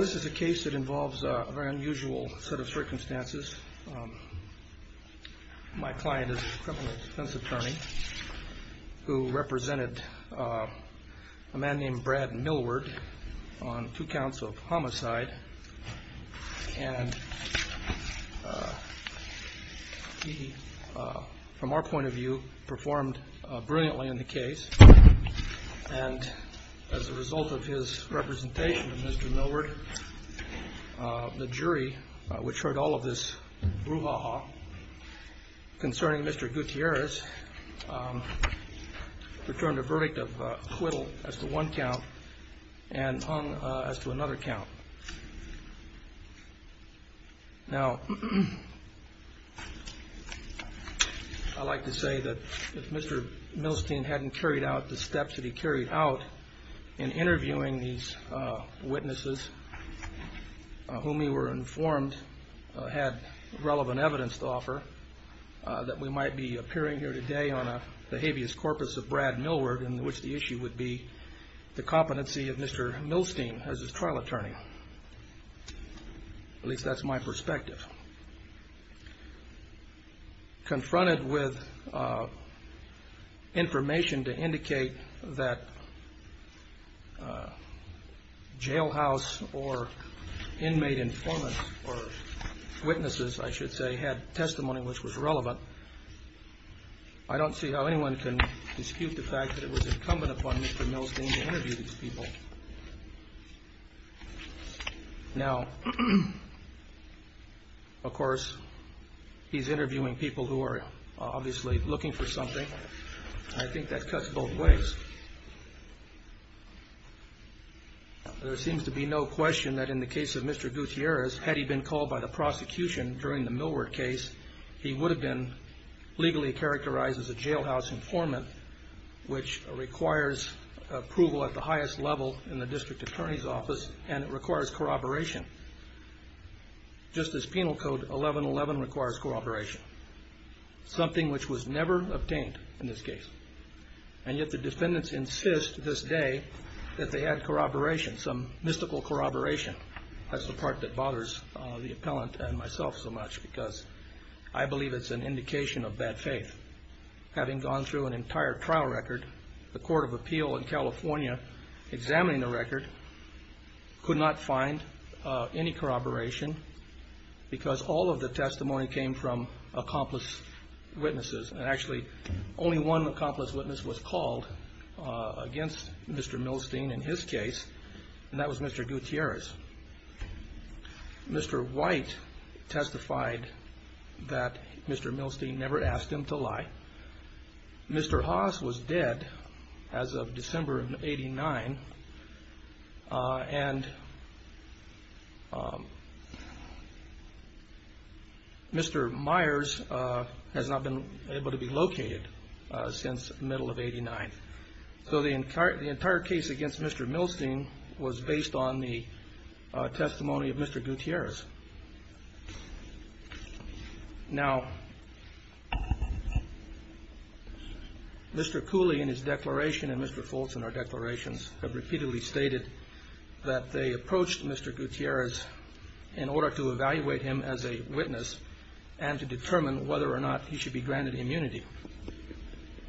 This is a case that involves a very unusual set of circumstances. My client is a criminal defense attorney who represented a man named Brad Millward on two counts of homicide, and he, from our point of view, performed brilliantly in the case. And as a result of his representation of Mr. Millward, the jury, which heard all of this brouhaha concerning Mr. Gutierrez, returned a verdict of acquittal as to one count, and hung as to another count. Now, I'd like to say that if Mr. Millstein hadn't carried out the steps that he carried out in interviewing these witnesses, whom he were informed had relevant evidence to offer, that we might be appearing here today on the habeas corpus of Brad Millward, in which the issue would be the competency of Mr. Millstein as his trial attorney. At least that's my perspective. Confronted with information to indicate that jailhouse or inmate informant or witnesses, I should say, had testimony which was relevant, I don't see how anyone can dispute the fact that it was incumbent upon Mr. Millstein to interview these people. Now, of course, he's interviewing people who are obviously looking for something, and I think that cuts both ways. There seems to be no question that in the case of Mr. Gutierrez, had he been called by the prosecution during the Millward case, he would have been legally characterized as a jailhouse informant, which requires approval at the highest level in the district attorney's office, and it requires corroboration. Just as penal code 1111 requires corroboration, something which was never obtained in this case. And yet the defendants insist this day that they had corroboration, some mystical corroboration. That's the part that bothers the appellant and myself so much, because I believe it's an indication of bad faith. Having gone through an entire trial record, the Court of Appeal in California, examining the record, could not find any corroboration, because all of the testimony came from accomplice witnesses. And actually, only one accomplice witness was called against Mr. Millstein in his case, and that was Mr. Gutierrez. Mr. White testified that Mr. Millstein never asked him to lie. Mr. Haas was dead as of December of 89, and Mr. Myers has not been able to be located since the middle of 89. So the entire case against Mr. Millstein was based on the testimony of Mr. Gutierrez. Now, Mr. Cooley in his declaration and Mr. Fultz in our declarations have repeatedly stated that they approached Mr. Gutierrez in order to evaluate him as a witness and to determine whether or not he should be granted immunity.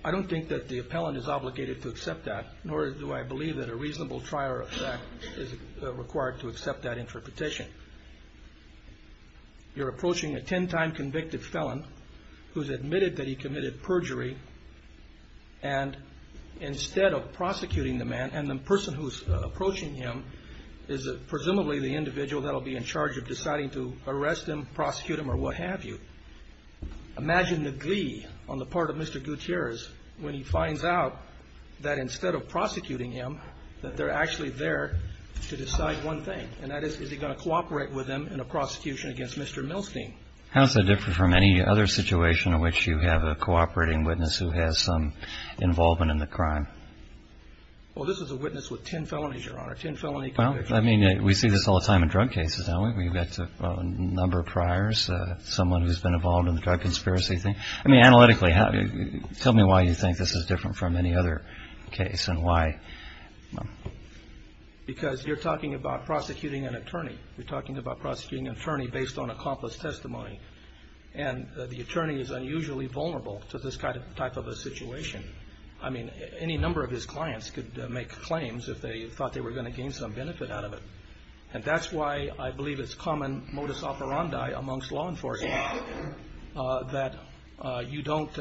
I don't think that the appellant is obligated to accept that, nor do I believe that a reasonable trier of fact is required to accept that interpretation. You're approaching a ten-time convicted felon who's admitted that he committed perjury, and instead of prosecuting the man, and the person who's approaching him is presumably the individual that will be in charge of deciding to arrest him, prosecute him, or what have you. Imagine the glee on the part of Mr. Gutierrez when he finds out that instead of prosecuting him, that they're actually there to decide one thing, and that is, is he going to cooperate with them in a prosecution against Mr. Millstein? How is that different from any other situation in which you have a cooperating witness who has some involvement in the crime? Well, this is a witness with ten felonies, Your Honor, ten felony convictions. Well, I mean, we see this all the time in drug cases, don't we? We've got a number of priors, someone who's been involved in the drug conspiracy thing. I mean, analytically, tell me why you think this is different from any other case and why. Because you're talking about prosecuting an attorney. You're talking about prosecuting an attorney based on accomplice testimony. And the attorney is unusually vulnerable to this type of a situation. I mean, any number of his clients could make claims if they thought they were going to gain some benefit out of it. And that's why I believe it's common modus operandi amongst law enforcement that you don't,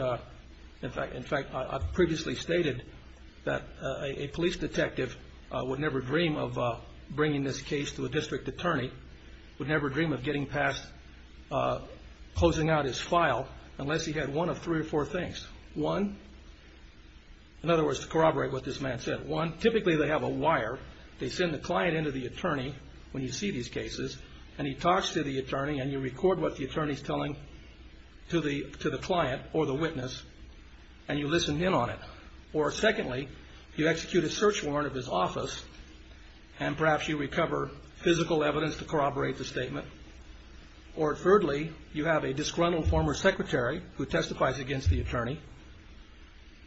in fact, I've previously stated that a police detective would never dream of bringing this case to a district attorney, would never dream of getting past closing out his file unless he had one of three or four things. One, in other words, to corroborate what this man said, one, typically they have a wire. They send the client into the attorney when you see these cases and he talks to the attorney and you record what the attorney is telling to the client or the witness and you listen in on it. Or secondly, you execute a search warrant of his office and perhaps you recover physical evidence to corroborate the statement. Or thirdly, you have a disgruntled former secretary who testifies against the attorney.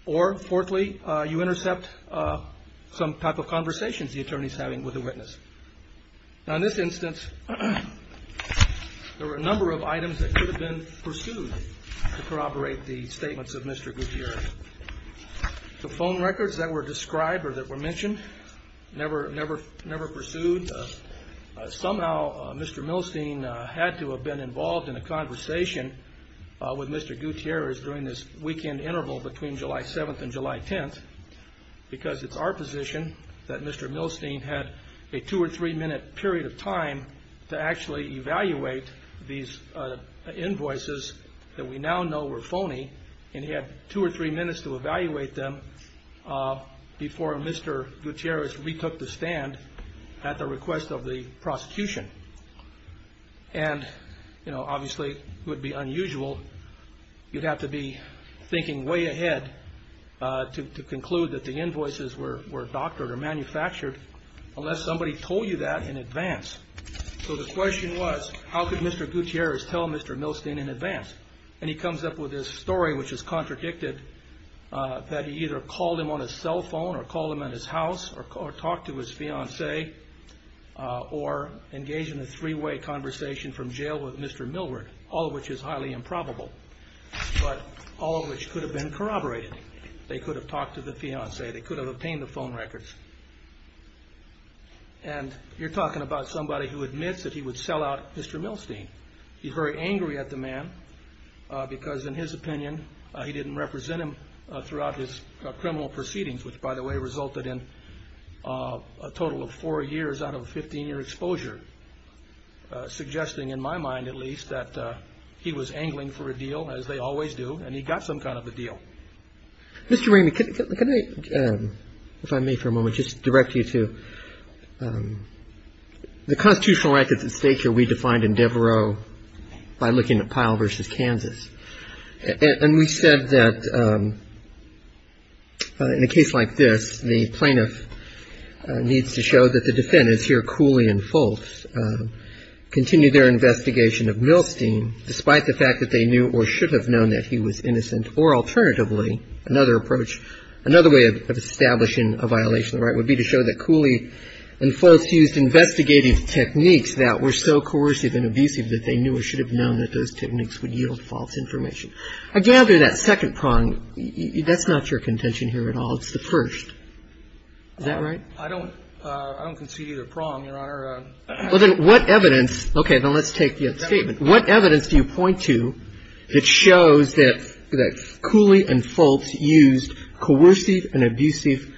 Or fourthly, you intercept some type of conversations the attorney is having with the witness. Now, in this instance, there were a number of items that could have been pursued to corroborate the statements of Mr. Gutierrez. The phone records that were described or that were mentioned never pursued. Somehow, Mr. Milstein had to have been involved in a conversation with Mr. Gutierrez during this weekend interval between July 7th and July 10th because it's our position that Mr. Milstein had a two or three minute period of time to actually evaluate these invoices that we now know were phony and he had two or three minutes to evaluate them before Mr. Gutierrez retook the stand at the request of the prosecution. And, you know, obviously it would be unusual. You'd have to be thinking way ahead to conclude that the invoices were doctored or manufactured unless somebody told you that in advance. So the question was, how could Mr. Gutierrez tell Mr. Milstein in advance? And he comes up with this story, which is contradicted, that he either called him on his cell phone or called him at his house or talked to his fiancée or engaged in a three-way conversation from jail with Mr. Milward, all of which is highly improbable, but all of which could have been corroborated. They could have talked to the fiancée. They could have obtained the phone records. And you're talking about somebody who admits that he would sell out Mr. Milstein. He's very angry at the man because, in his opinion, he didn't represent him throughout his criminal proceedings, which, by the way, resulted in a total of four years out of a 15-year exposure, suggesting, in my mind at least, that he was angling for a deal, as they always do, and he got some kind of a deal. Mr. Raymond, can I, if I may for a moment, just direct you to the constitutional records at stake here we defined in Devereaux by looking at Pyle v. Kansas. And we said that in a case like this, the plaintiff needs to show that the defendants here, Cooley and Fulkes, continue their investigation of Milstein despite the fact that they knew or should have known that he was innocent or alternatively, another approach, another way of establishing a violation of the right would be to show that Cooley and Fulkes used investigative techniques that were so coercive and abusive that they knew or should have known that those techniques would yield false information. I gather that second prong, that's not your contention here at all. It's the first. Is that right? I don't concede either prong, Your Honor. Well, then what evidence – okay. Now, let's take the other statement. What evidence do you point to that shows that Cooley and Fulkes used coercive and abusive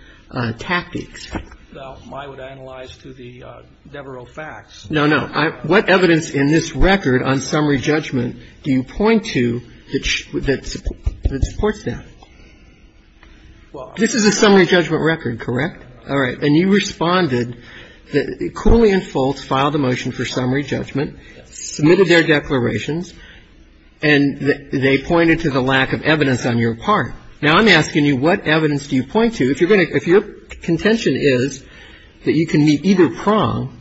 tactics? Well, I would analyze to the Devereaux facts. No, no. What evidence in this record on summary judgment do you point to that supports that? This is a summary judgment record, correct? All right. And you responded that Cooley and Fulkes filed a motion for summary judgment, submitted their declarations, and they pointed to the lack of evidence on your part. Now, I'm asking you what evidence do you point to? If you're going to – if your contention is that you can meet either prong,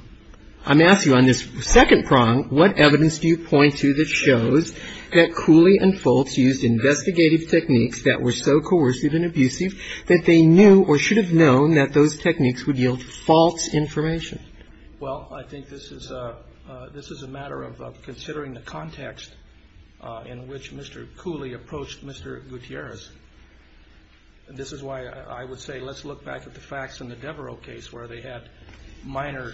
I'm asking you on this second prong, what evidence do you point to that shows that Cooley and Fulkes used investigative techniques that were so coercive and abusive that they knew or should have known that those techniques would yield false information? Well, I think this is a matter of considering the context in which Mr. Cooley approached Mr. Gutierrez. And this is why I would say let's look back at the facts in the Devereaux case where they had minor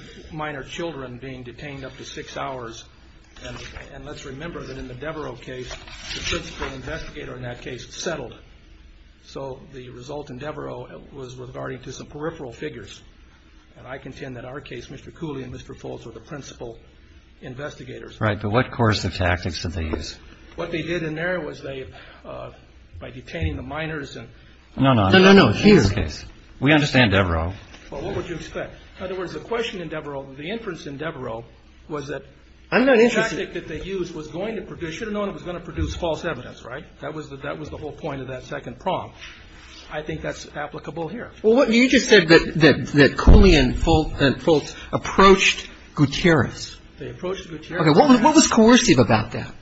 children being detained up to six hours. And let's remember that in the Devereaux case, the principal investigator in that case settled. So the result in Devereaux was regarding to some peripheral figures. And I contend that our case, Mr. Cooley and Mr. Fulkes were the principal investigators. Right. But what coercive tactics did they use? What they did in there was they, by detaining the minors and – No, no. No, no. No, no. It's his case. We understand Devereaux. Well, what would you expect? In other words, the question in Devereaux, the inference in Devereaux was that – I'm not interested – The tactic that they used was going to – they should have known it was going to produce false evidence, right? That was the whole point of that second prong. I think that's applicable here. Well, you just said that Cooley and Fulkes approached Gutierrez. They approached Gutierrez. Okay. What was coercive about that?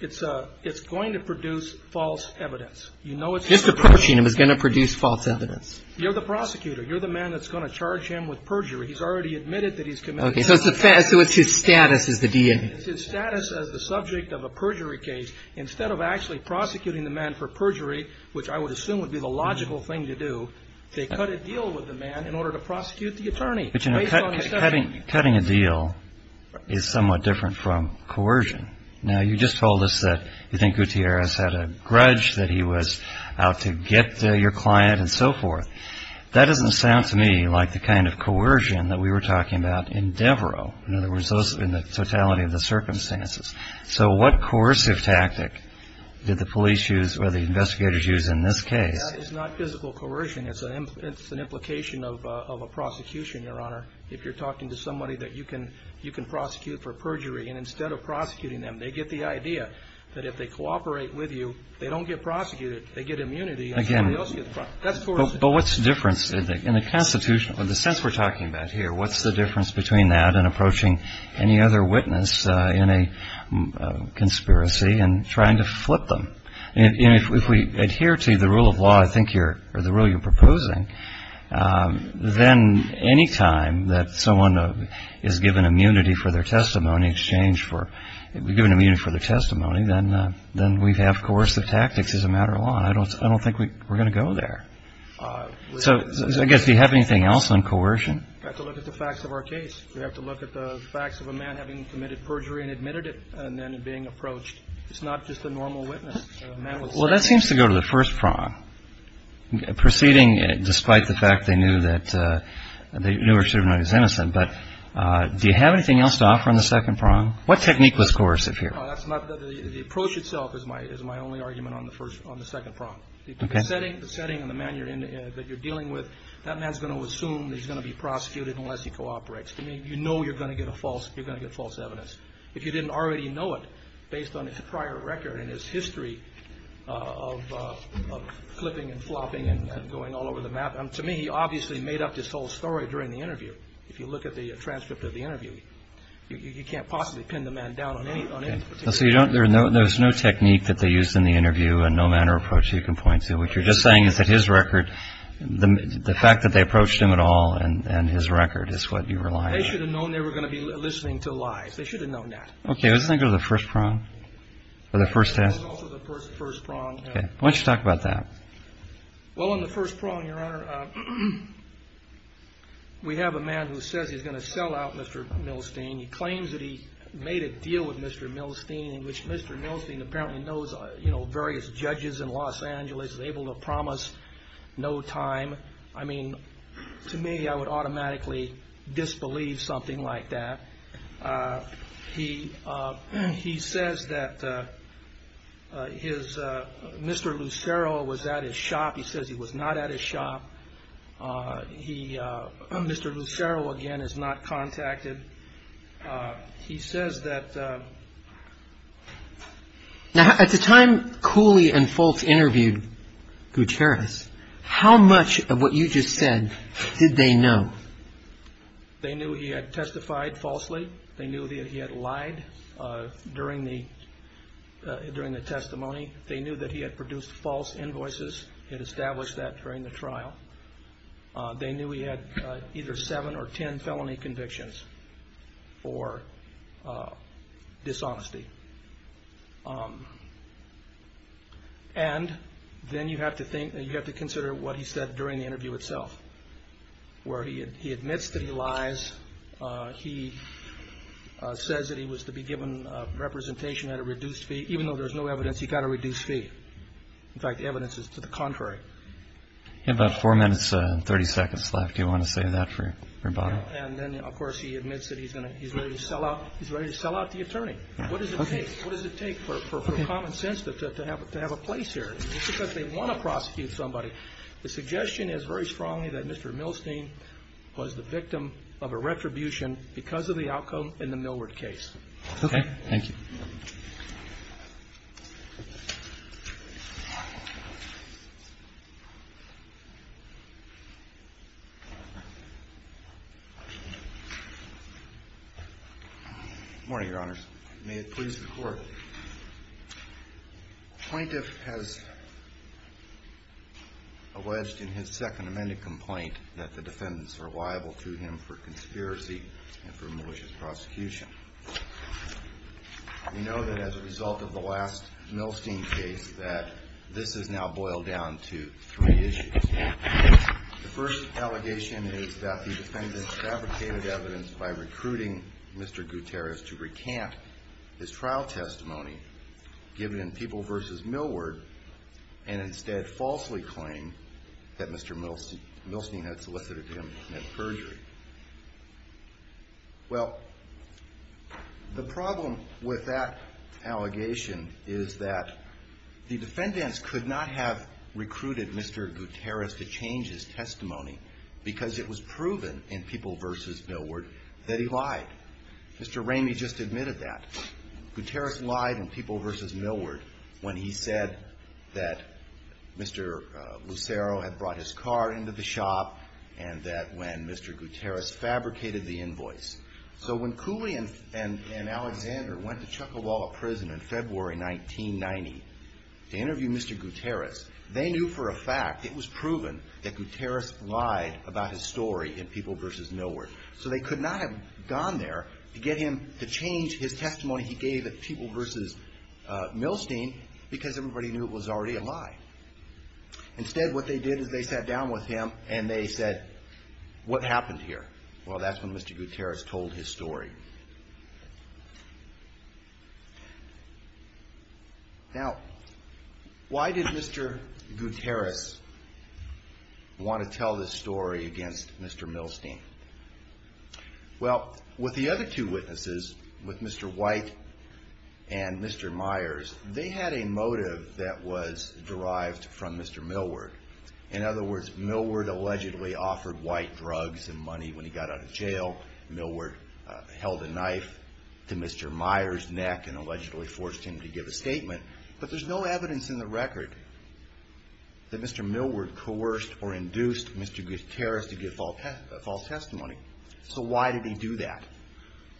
It's going to produce false evidence. Just approaching him is going to produce false evidence. You're the prosecutor. You're the man that's going to charge him with perjury. He's already admitted that he's committed – Okay. So it's his status as the DNA. It's his status as the subject of a perjury case. Instead of actually prosecuting the man for perjury, which I would assume would be the logical thing to do, they cut a deal with the man in order to prosecute the attorney. Cutting a deal is somewhat different from coercion. Now, you just told us that you think Gutierrez had a grudge that he was out to get your client and so forth. That doesn't sound to me like the kind of coercion that we were talking about in Devereaux, in other words, in the totality of the circumstances. So what coercive tactic did the police use or the investigators use in this case? That is not physical coercion. It's an implication of a prosecution, Your Honor, if you're talking to somebody that you can prosecute for perjury. And instead of prosecuting them, they get the idea that if they cooperate with you, they don't get prosecuted. They get immunity and somebody else gets prosecuted. That's coercive. But what's the difference in the constitutional – in the sense we're talking about here? What's the difference between that and approaching any other witness in a conspiracy and trying to flip them? If we adhere to the rule of law, I think you're – or the rule you're proposing, then any time that someone is given immunity for their testimony in exchange for – given immunity for their testimony, then we have coercive tactics as a matter of law. I don't think we're going to go there. So I guess do you have anything else on coercion? We have to look at the facts of our case. We have to look at the facts of a man having committed perjury and admitted it and then being approached. It's not just a normal witness. Well, that seems to go to the first prong, proceeding despite the fact they knew that – they knew or should have known he was innocent. But do you have anything else to offer on the second prong? What technique was coercive here? The approach itself is my only argument on the first – on the second prong. The setting and the man that you're dealing with, that man is going to assume he's going to be prosecuted unless he cooperates. To me, you know you're going to get a false – you're going to get false evidence. If you didn't already know it based on his prior record and his history of flipping and flopping and going all over the map – to me, he obviously made up this whole story during the interview. If you look at the transcript of the interview, you can't possibly pin the man down on anything. So you don't – there's no technique that they used in the interview and no manner of approach you can point to. What you're just saying is that his record – the fact that they approached him at all and his record is what you rely on. They should have known they were going to be listening to lies. They should have known that. Okay. Doesn't that go to the first prong or the first test? It goes to the first prong. Okay. Why don't you talk about that? Well, on the first prong, Your Honor, we have a man who says he's going to sell out Mr. Milstein. He claims that he made a deal with Mr. Milstein in which Mr. Milstein apparently knows various judges in Los Angeles, is able to promise no time. I mean, to me, I would automatically disbelieve something like that. He says that Mr. Lucero was at his shop. He says he was not at his shop. Mr. Lucero, again, is not contacted. He says that – Now, at the time Cooley and Foltz interviewed Gutierrez, how much of what you just said did they know? They knew he had testified falsely. They knew that he had lied during the testimony. They knew that he had produced false invoices. He had established that during the trial. They knew he had either seven or ten felony convictions for dishonesty. And then you have to consider what he said during the interview itself, where he admits that he lies. He says that he was to be given representation at a reduced fee. Even though there's no evidence, he got a reduced fee. In fact, the evidence is to the contrary. You have about four minutes and 30 seconds left. Do you want to say that for rebuttal? And then, of course, he admits that he's ready to sell out the attorney. What does it take for common sense to have a place here? Just because they want to prosecute somebody, the suggestion is very strongly that Mr. Milstein was the victim of a retribution because of the outcome in the Millward case. Okay. Thank you. Good morning, Your Honors. May it please the Court. The plaintiff has alleged in his second amended complaint that the defendants are liable to him for conspiracy and for malicious prosecution. We know that as a result of the last Milstein case that this has now boiled down to three issues. The first allegation is that the defendants fabricated evidence by recruiting Mr. Gutierrez to recant his trial testimony given in People v. Millward and instead falsely claim that Mr. Milstein had solicited him to commit perjury. Well, the problem with that allegation is that the defendants could not have recruited Mr. Gutierrez to change his testimony because it was proven in People v. Millward that he lied. Mr. Ramey just admitted that. Mr. Gutierrez lied in People v. Millward when he said that Mr. Lucero had brought his car into the shop and that when Mr. Gutierrez fabricated the invoice. So when Cooley and Alexander went to Chuckawalla Prison in February 1990 to interview Mr. Gutierrez, they knew for a fact it was proven that Gutierrez lied about his story in People v. Millward. So they could not have gone there to get him to change his testimony he gave at People v. Milstein because everybody knew it was already a lie. Instead, what they did is they sat down with him and they said, what happened here? Well, that's when Mr. Gutierrez told his story. Now, why did Mr. Gutierrez want to tell this story against Mr. Milstein? Well, with the other two witnesses, with Mr. White and Mr. Myers, they had a motive that was derived from Mr. Millward. In other words, Millward allegedly offered White drugs and money when he got out of jail. Millward held a knife to Mr. Myers' neck and allegedly forced him to give a statement. But there's no evidence in the record that Mr. Millward coerced or induced Mr. Gutierrez to give false testimony. So why did he do that?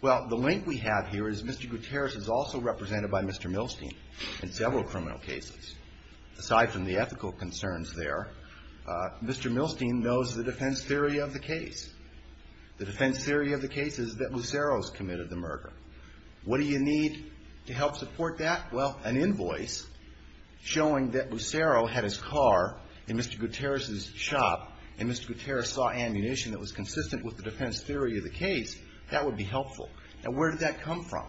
Well, the link we have here is Mr. Gutierrez is also represented by Mr. Milstein in several criminal cases. Aside from the ethical concerns there, Mr. Milstein knows the defense theory of the case. The defense theory of the case is that Lucero's committed the murder. What do you need to help support that? Well, an invoice showing that Lucero had his car in Mr. Gutierrez's shop and Mr. Gutierrez saw ammunition that was consistent with the defense theory of the case, that would be helpful. Now, where did that come from?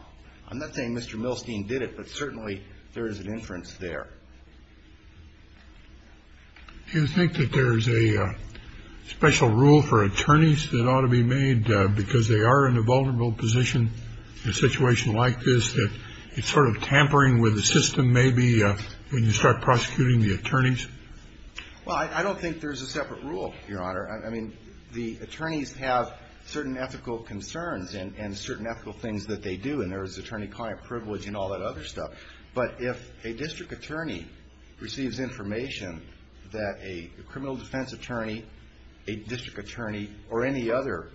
I'm not saying Mr. Milstein did it, but certainly there is an inference there. Do you think that there's a special rule for attorneys that ought to be made because they are in a vulnerable position in a situation like this that it's sort of tampering with the system maybe when you start prosecuting the attorneys? Well, I don't think there's a separate rule, Your Honor. I mean, the attorneys have certain ethical concerns and certain ethical things that they do, and there's attorney-client privilege and all that other stuff. But if a district attorney receives information that a criminal defense attorney, a district attorney, or any other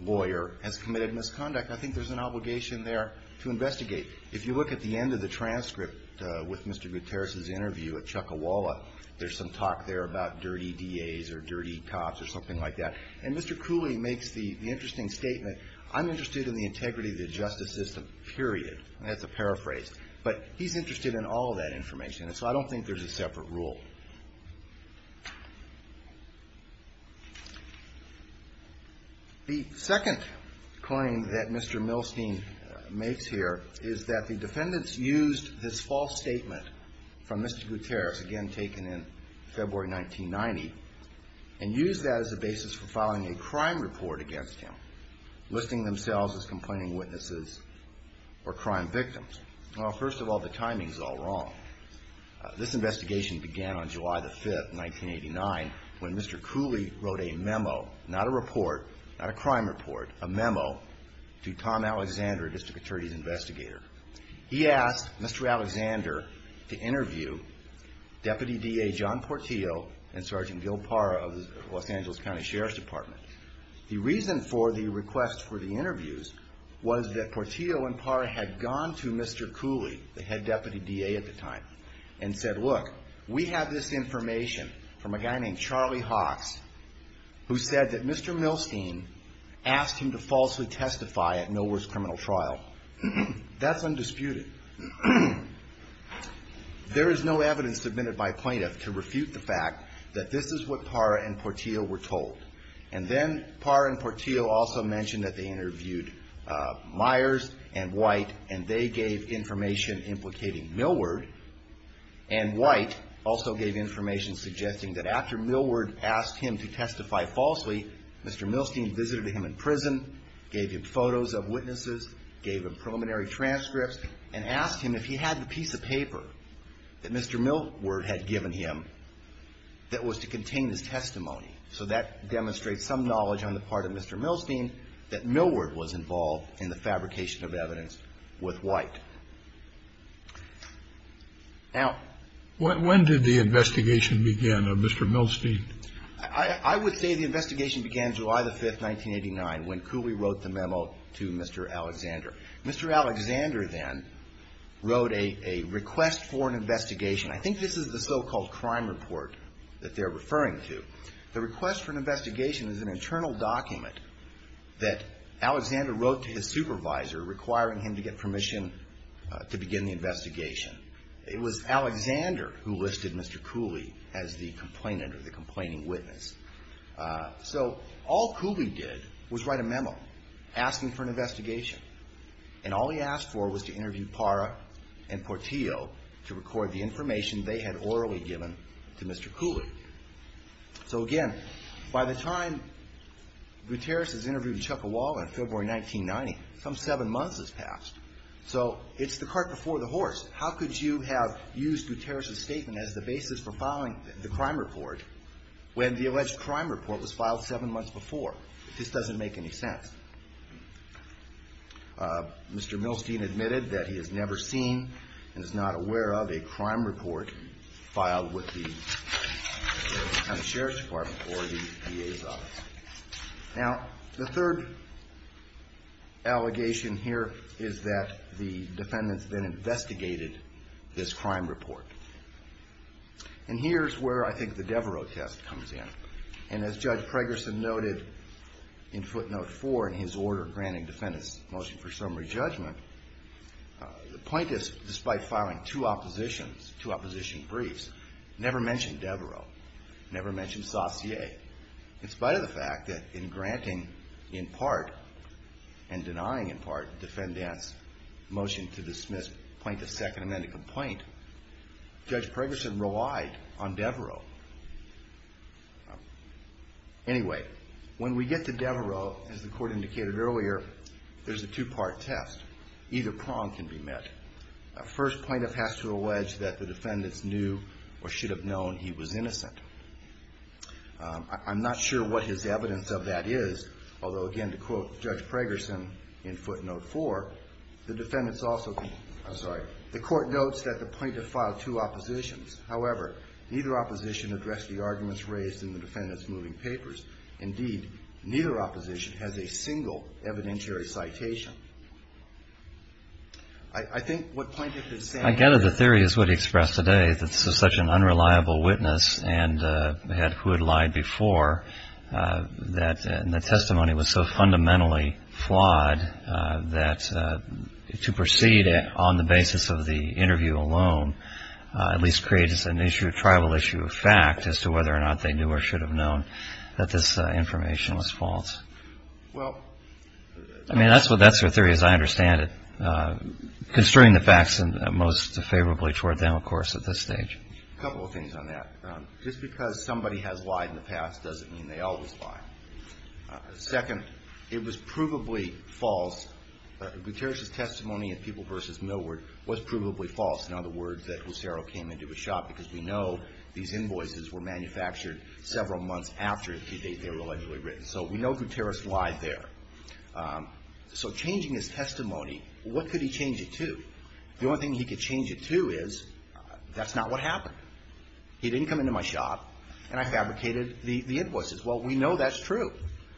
lawyer has committed misconduct, I think there's an obligation there to investigate. If you look at the end of the transcript with Mr. Gutierrez's interview at Chuckawalla, there's some talk there about dirty DAs or dirty cops or something like that. And Mr. Cooley makes the interesting statement, I'm interested in the integrity of the justice system, period. And that's a paraphrase. But he's interested in all of that information, and so I don't think there's a separate rule. The second claim that Mr. Milstein makes here is that the defendants used his false statement from Mr. Gutierrez, again, taken in February 1990, and used that as a basis for filing a suit. Filing a crime report against him, listing themselves as complaining witnesses or crime victims. Well, first of all, the timing's all wrong. This investigation began on July the 5th, 1989, when Mr. Cooley wrote a memo, not a report, not a crime report, a memo, to Tom Alexander, a district attorney's investigator. He asked Mr. Alexander to interview Deputy DA John Portillo and Sergeant Gil Parra of the Los Angeles County Sheriff's Department, the reason for the request for the interviews was that Portillo and Parra had gone to Mr. Cooley, the head deputy DA at the time, and said, look, we have this information from a guy named Charlie Hawks, who said that Mr. Milstein asked him to falsely testify at Nolwar's criminal trial. That's undisputed. There is no evidence submitted by plaintiff to refute the fact that this is what Parra and Portillo were told. And so the investigation began on July the 5th, 1989, when Mr. Cooley wrote a memo, not a report, not a crime report, a memo, to Tom Alexander. And then Parra and Portillo also mentioned that they interviewed Myers and White, and they gave information implicating Milward, and White also gave information suggesting that after Milward asked him to testify falsely, Mr. Milstein visited him in prison, gave him photos of witnesses, gave him preliminary knowledge on the part of Mr. Milstein, that Milward was involved in the fabrication of evidence with White. Now... When did the investigation begin of Mr. Milstein? I would say the investigation began July the 5th, 1989, when Cooley wrote the memo to Mr. Alexander. Mr. Alexander then wrote a request for an investigation. I think this is the so-called crime report that they're referring to. The request for an investigation is an internal document that Alexander wrote to his supervisor requiring him to get permission to begin the investigation. It was Alexander who listed Mr. Cooley as the complainant or the complaining witness. So all Cooley did was write a memo asking for an investigation. And all he asked for was to interview Parra and Portillo to record the information they had orally given to Mr. Cooley. So again, the investigation began July the 5th, 1989. By the time Guterres is interviewed in Chuckawalla in February 1990, some seven months has passed. So it's the cart before the horse. How could you have used Guterres's statement as the basis for filing the crime report when the alleged crime report was filed seven months before? This doesn't make any sense. Mr. Milstein admitted that he has never seen and is not aware of a crime report filed with the Attorney General's office or the DA's office. Now, the third allegation here is that the defendants then investigated this crime report. And here's where I think the Devereaux test comes in. And as Judge Pregerson noted in footnote four in his order granting defendants motion for summary judgment, the point is, despite filing two opposition briefs, never mentioned Devereaux, never mentioned Saussure. In spite of the fact that in granting in part and denying in part defendants motion to dismiss plaintiff's second amendment complaint, Judge Pregerson relied on Devereaux. Anyway, when we get to Devereaux, as the plaintiff has to allege, that the defendants knew or should have known he was innocent. I'm not sure what his evidence of that is, although, again, to quote Judge Pregerson in footnote four, the defendants also, I'm sorry, the court notes that the plaintiff filed two oppositions. However, neither opposition addressed the arguments raised in the defendants moving papers. Indeed, neither opposition has a single evidentiary citation. I think what I get of the theory is what he expressed today, that this is such an unreliable witness and had who had lied before, that the testimony was so fundamentally flawed that to proceed on the basis of the interview alone at least creates an issue, a tribal issue of fact, as to whether or not they knew or should have known that this information was false. I mean, that's the theory as I understand it. Considering the facts in this case, I don't think that the defendants had any evidence that they knew or should have known, most favorably toward them, of course, at this stage. A couple of things on that. Just because somebody has lied in the past doesn't mean they always lie. Second, it was provably false. Guterres' testimony in People v. Millward was provably false. In other words, that Lucero came into a shop because we know these invoices were manufactured several months after they were allegedly written. So we know Guterres lied there. So changing his testimony, what could he change it to? The only thing he could change it to is, that's not what happened. He didn't come into my shop, and I fabricated the invoices. Well, we know that's true.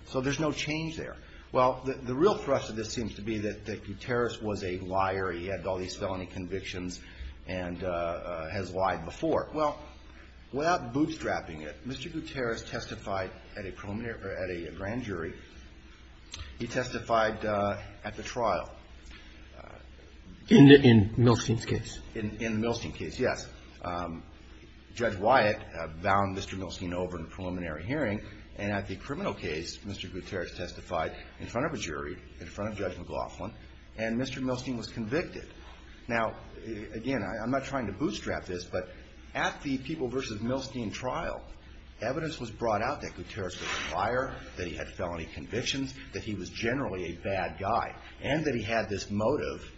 So there's no change there. Well, the real thrust of this seems to be that Guterres was a liar. He had all these felony convictions and has lied before. Well, without bootstrapping it, Mr. Guterres testified at a grand jury. He testified at the trial. In Millard v. Millward. In the Milstein case, yes. Judge Wyatt bound Mr. Milstein over in a preliminary hearing, and at the criminal case, Mr. Guterres testified in front of a jury, in front of Judge McLaughlin, and Mr. Milstein was convicted. Now, again, I'm not trying to bootstrap this, but at the People v. Milstein trial, evidence was brought out that Guterres was a liar, that he had felony convictions, that he was generally a bad guy, and that he had this motive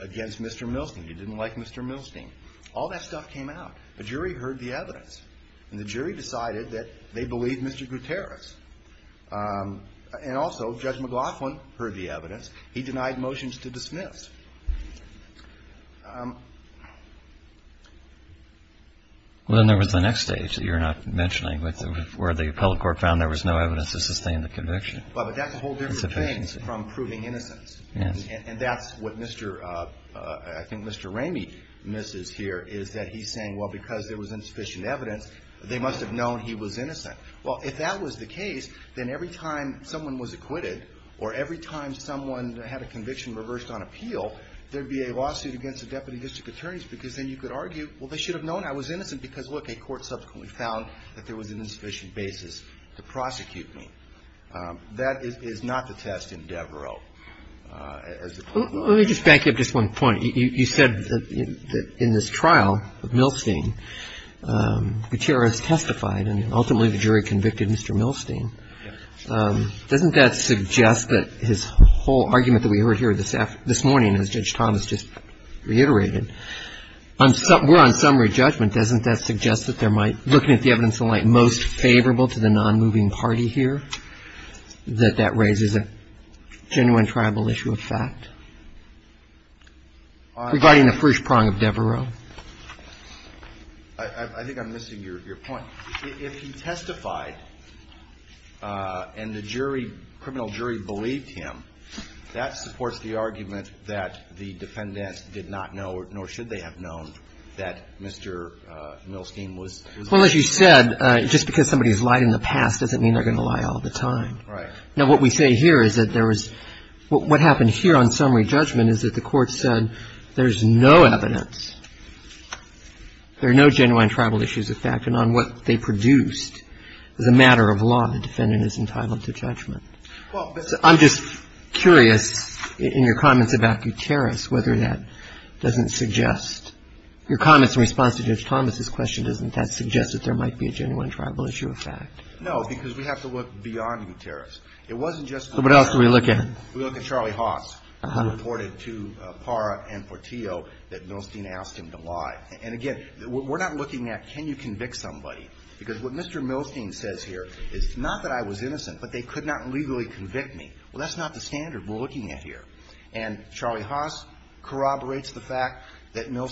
against Mr. Milstein. He didn't like Mr. Milstein. All that stuff came out. The jury heard the evidence, and the jury decided that they believed Mr. Guterres. And also, Judge McLaughlin heard the evidence. He denied motions to dismiss. Well, then there was the next stage that you're not mentioning, where the appellate court found there was no evidence to sustain the conviction. Well, but that's a whole different thing from proving innocence. And that's what I think Mr. Ramey misses here, is that he's saying, well, because there was insufficient evidence, they must have known he was innocent. Well, if that was the case, then every time someone was acquitted, or every time someone had a conviction reversed on appeal, there'd be a lawsuit against the deputy district attorneys, because then you could argue, well, they should have known I was innocent, because look, a court subsequently found that there was an insufficient basis to prosecute me. That is not the test in Devereux. Let me just back up just one point. You said that in this trial of Milstein, Guterres testified, and ultimately the jury convicted Mr. Milstein. Doesn't that suggest that his whole argument that we heard here this morning, as Judge Thomas just reiterated, were on summary judgment. Doesn't that suggest that there might, looking at the evidence of the light, most favorable to the nonmoving party here, that that raises a genuine tribal issue of fact? Regarding the first prong of Devereux. I think I'm missing your point. If he testified, and the jury, criminal jury believed him, that supports the argument that the defendant did not know, nor should they have known, that Mr. Milstein was innocent. Well, as you said, just because somebody has lied in the past doesn't mean they're going to lie all the time. Now, what we say here is that there was, what happened here on summary judgment is that the court said there's no evidence, there are no genuine tribal issues of fact, and on what they produced is a matter of law. The defendant is entitled to judgment. Well, I'm just curious, in your comments about Guterres, whether that doesn't suggest, your comments in response to Judge Thomas's question, doesn't that suggest that there might be a genuine tribal issue of fact? No, because we have to look beyond Guterres. It wasn't just Guterres. But what else do we look at? We look at Charlie Haas, who reported to Parra and Portillo that Milstein asked him to lie. And again, we're not looking at can you convict somebody, because what Mr. Milstein says here is not that I was innocent, but they could not legally convict me. Well, that's not the standard we're looking at here. And Charlie Haas corroborates the fact that he was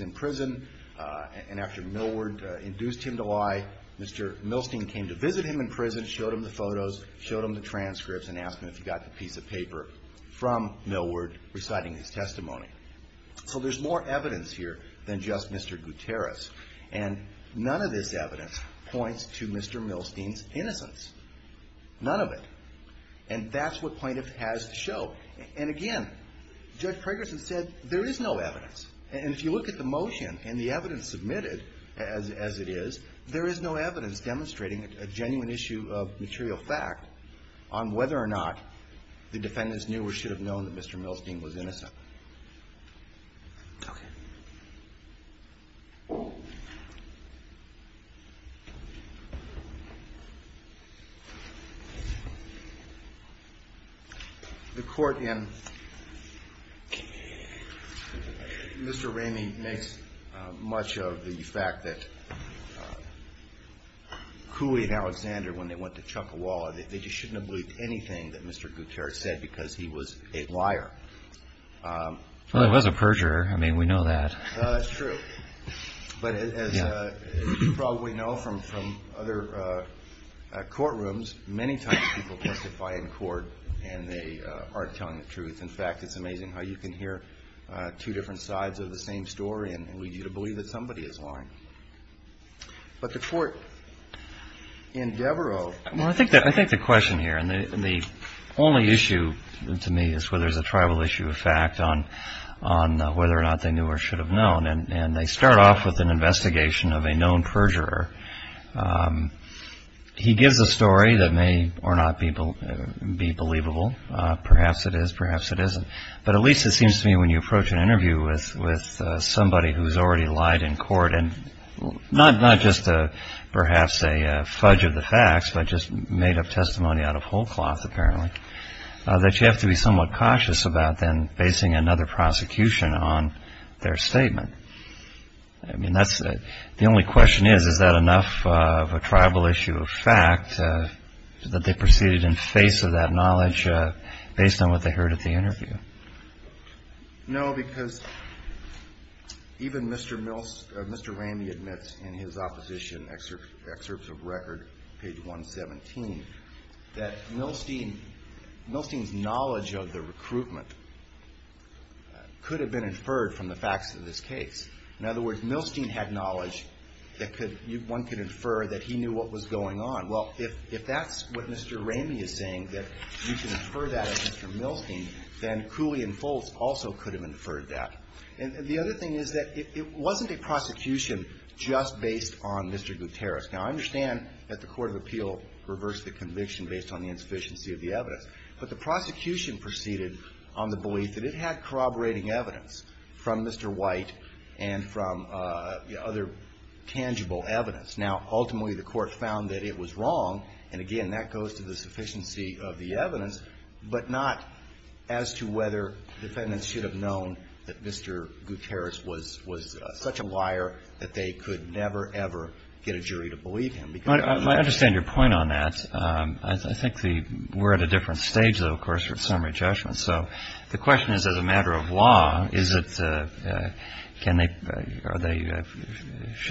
in prison, and after Millward induced him to lie, Mr. Milstein came to visit him in prison, showed him the photos, showed him the transcripts, and asked him if he got the piece of paper from Millward reciting his testimony. So there's more evidence here than just Mr. Guterres. And none of this evidence points to Mr. Milstein's innocence. None of it. And that's what plaintiff has to show. And again, Judge Fragerson said there is no evidence. And if you look at the motion and the evidence submitted as it is, there is no evidence demonstrating a genuine issue of material fact on whether or not the defendants knew or should have known that Mr. Milstein was innocent. Okay. The court in Mr. Ramey makes much of the fact that Cooley and Alexander, when they went to Chuckawalla, they just shouldn't have believed anything that Mr. Guterres said, because he was a liar. Well, he was a perjurer. I mean, we know that. That's true. But as you probably know from other courtrooms, many times people testify in court, and they aren't telling the truth. In fact, it's amazing how you can hear two different sides of the same story and lead you to believe that somebody is lying. But the court in Mr. Ramey makes much of the fact that Cooley and Alexander, when they went to Chuckawalla, they just shouldn't have believed anything that Mr. Guterres said, because he was a liar. And the only issue to me is whether there's a tribal issue of fact on whether or not they knew or should have known. And they start off with an investigation of a known perjurer. He gives a story that may or not be believable. Perhaps it is, perhaps it isn't. But at least it seems to me when you approach an interview with somebody who's already lied in court and not just perhaps a fudge of the facts, but just made-up testimony out of wholeness. And that you have to be somewhat cautious about then basing another prosecution on their statement. I mean, the only question is, is that enough of a tribal issue of fact that they proceeded in face of that knowledge based on what they heard at the interview? No, because even Mr. Ramey admits in his opposition excerpts of record, page 117, that Mr. Guterres is a liar. He's a liar. He's a liar. And I think that Milstein's knowledge of the recruitment could have been inferred from the facts of this case. In other words, Milstein had knowledge that one could infer that he knew what was going on. Well, if that's what Mr. Ramey is saying, that you can infer that from Mr. Milstein, then Cooley and Foltz also could have inferred that. And the other thing is that it wasn't a prosecution just based on Mr. Guterres. Now, I understand that the court of appeal reversed the conviction based on the insufficiency of the evidence, but the prosecution proceeded on the belief that it had corroborating evidence from Mr. White and from other tangible evidence. Now, ultimately, the court found that it was wrong, and again, that goes to the sufficiency of the evidence, but not as to whether defendants should have known that Mr. Guterres was such a liar that they could never, ever get a jury to believe that. I understand your point on that. I think we're at a different stage, though, of course, with summary judgment. So the question is, as a matter of law, should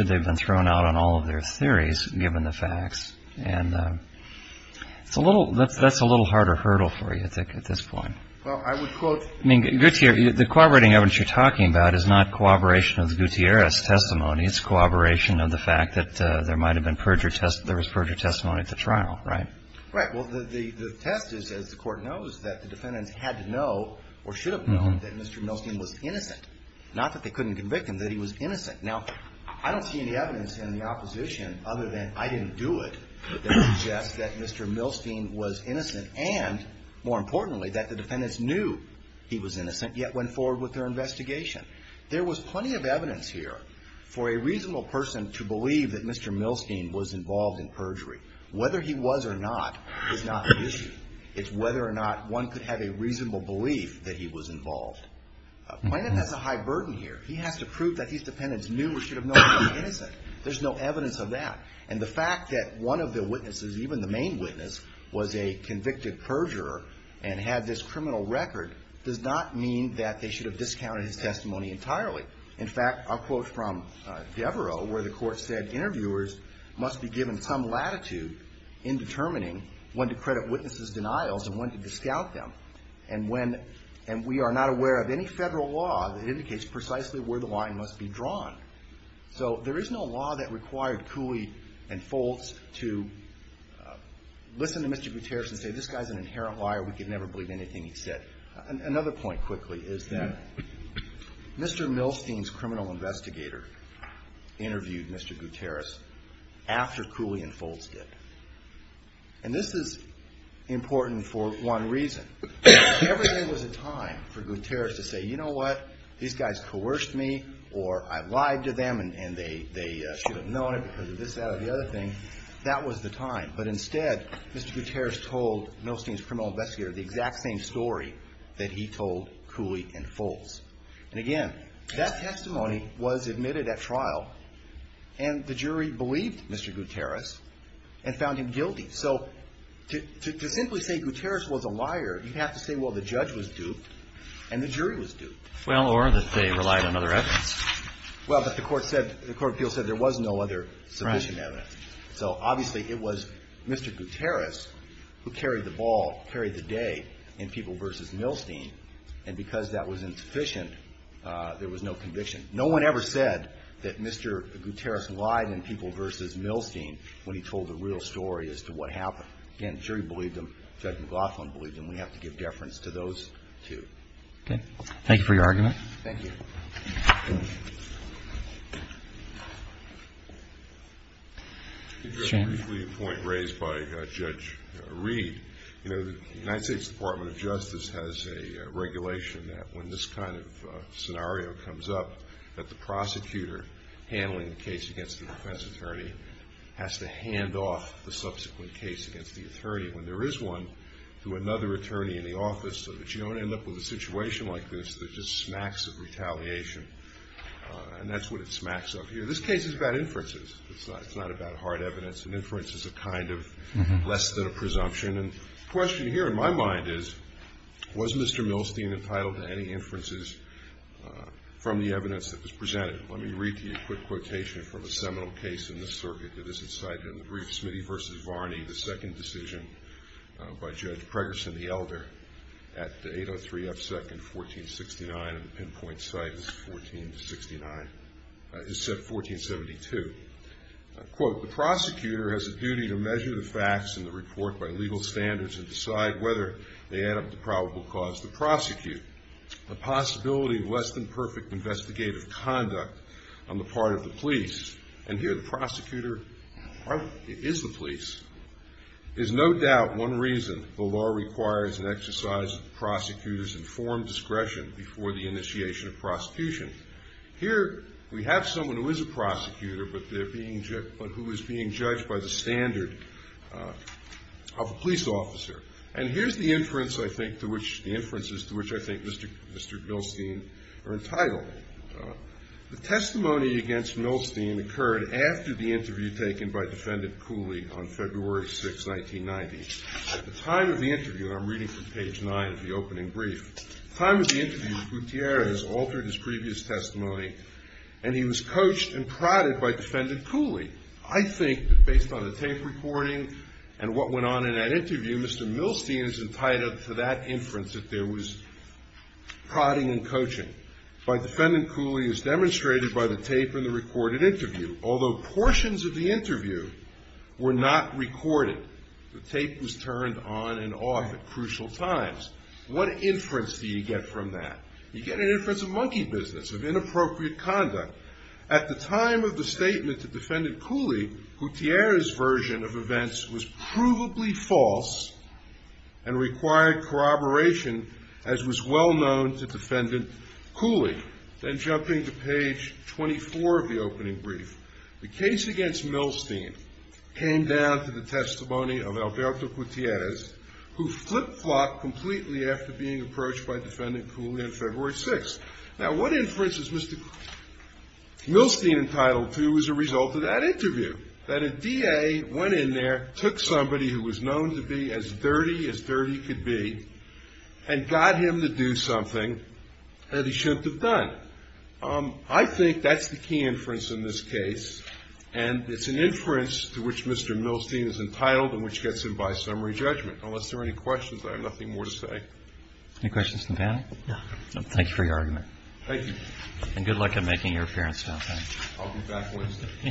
they have been thrown out on all of their theories, given the facts? And that's a little harder hurdle for you, I think, at this point. Well, I would quote... I mean, the corroborating evidence you're talking about is not corroboration of Guterres' testimony. It's corroboration of the fact that there was perjury testimony at the trial, right? Right. Well, the test is, as the court knows, that the defendants had to know, or should have known, that Mr. Milstein was innocent. Not that they couldn't convict him, that he was innocent. Now, I don't see any evidence in the opposition, other than I didn't do it, that suggests that Mr. Milstein was innocent and, more importantly, that the defendants knew he was innocent, yet went forward with their investigation. There was plenty of evidence here for a reasonable person to believe that Mr. Milstein was involved in perjury. Whether he was or not is not the issue. It's whether or not one could have a reasonable belief that he was involved. Plaintiff has a high burden here. He has to prove that these defendants knew or should have known he was innocent. There's no evidence of that. And the fact that one of the witnesses, even the main witness, was a convicted perjurer and had this criminal record does not mean that they should have discounted his testimony. In fact, I'll quote from Devereaux, where the court said interviewers must be given some latitude in determining when to credit witnesses' denials and when to discount them. And when, and we are not aware of any Federal law that indicates precisely where the line must be drawn. So there is no law that required Cooley and Foltz to listen to Mr. Gutierrez and say, this guy's an inherent liar, we could never believe anything he said. Another point quickly is that Mr. Milstein's criminal investigator interviewed Mr. Gutierrez after Cooley and Foltz did. And this is important for one reason. If there was a time for Gutierrez to say, you know what, these guys coerced me or I lied to them and they should have known it because of this, that, or the other thing, that was the time. But instead, Mr. Gutierrez told Milstein's criminal investigator the exact same story. That he told Cooley and Foltz. And again, that testimony was admitted at trial and the jury believed Mr. Gutierrez and found him guilty. So to simply say Gutierrez was a liar, you have to say, well, the judge was duped and the jury was duped. Well, or that they relied on other evidence. Well, but the court said, the court of appeals said there was no other sufficient evidence. So obviously it was Mr. Gutierrez who carried the ball, carried the day in People v. Milstein. And because that was insufficient, there was no conviction. No one ever said that Mr. Gutierrez lied in People v. Milstein when he told the real story as to what happened. Again, the jury believed him, Judge McLaughlin believed him, we have to give deference to those two. Thank you for your argument. I'll briefly point raised by Judge Reed. You know, the United States Department of Justice has a regulation that when this kind of scenario comes up, that the prosecutor handling the case against the defense attorney has to hand off the subsequent case against the attorney. When there is one, to another attorney in the office, so that you don't end up with a situation like this that just smacks of retaliation. And that's what it smacks of here. This case is about inferences. It's not about hard evidence. An inference is a kind of less than a presumption. And the question here in my mind is, was Mr. Milstein entitled to any inferences from the evidence that was presented? Let me read to you a quick quotation from a seminal case in this circuit that is incited in the brief, Smitty v. Varney, the second decision by Judge Preggerson, the elder, at 803 F. 2nd, 1469. And the pinpoint site is 1469, is set 1472. Quote, the prosecutor has a duty to measure the facts in the report by legal standards and decide whether they add up to probable cause to prosecute. The possibility of less than perfect investigative conduct on the part of the police, and here the prosecutor is the police, is no doubt one reason the law requires an exercise of the prosecutor's informed discretion before the initiation of prosecution. Here we have someone who is a prosecutor, but who is being judged by the standard of a police officer. And here's the inferences to which I think Mr. Milstein are entitled. The testimony against Milstein occurred after the interview taken by jury 6, 1990. At the time of the interview, and I'm reading from page 9 of the opening brief, the time of the interview Gutierrez altered his previous testimony, and he was coached and prodded by defendant Cooley. I think that based on the tape recording and what went on in that interview, Mr. Milstein is entitled to that inference that there was prodding and coaching. By defendant Cooley as demonstrated by the tape and the recorded interview, although portions of the interview were not recorded, the tape was turned on and off at crucial times. What inference do you get from that? You get an inference of monkey business, of inappropriate conduct. At the time of the statement to defendant Cooley, Gutierrez's version of events was provably false and required corroboration as was well known to defendant Cooley. Then jumping to page 24 of the opening brief, the case against Milstein came down to the testimony of Alberto Gutierrez, who flip-flopped completely after being approached by defendant Cooley on February 6th. Now what inference is Mr. Milstein entitled to as a result of that interview? That a DA went in there, took somebody who was known to be as dirty as dirty could be, and got him to do something that he shouldn't have done. I think that's the key inference in this case, and it's an inference to which Mr. Milstein is entitled and which gets him by summary judgment. Unless there are any questions, I have nothing more to say. Any questions from the panel? Thank you for your argument. Thank you. And good luck in making your appearance. I'll be back Wednesday.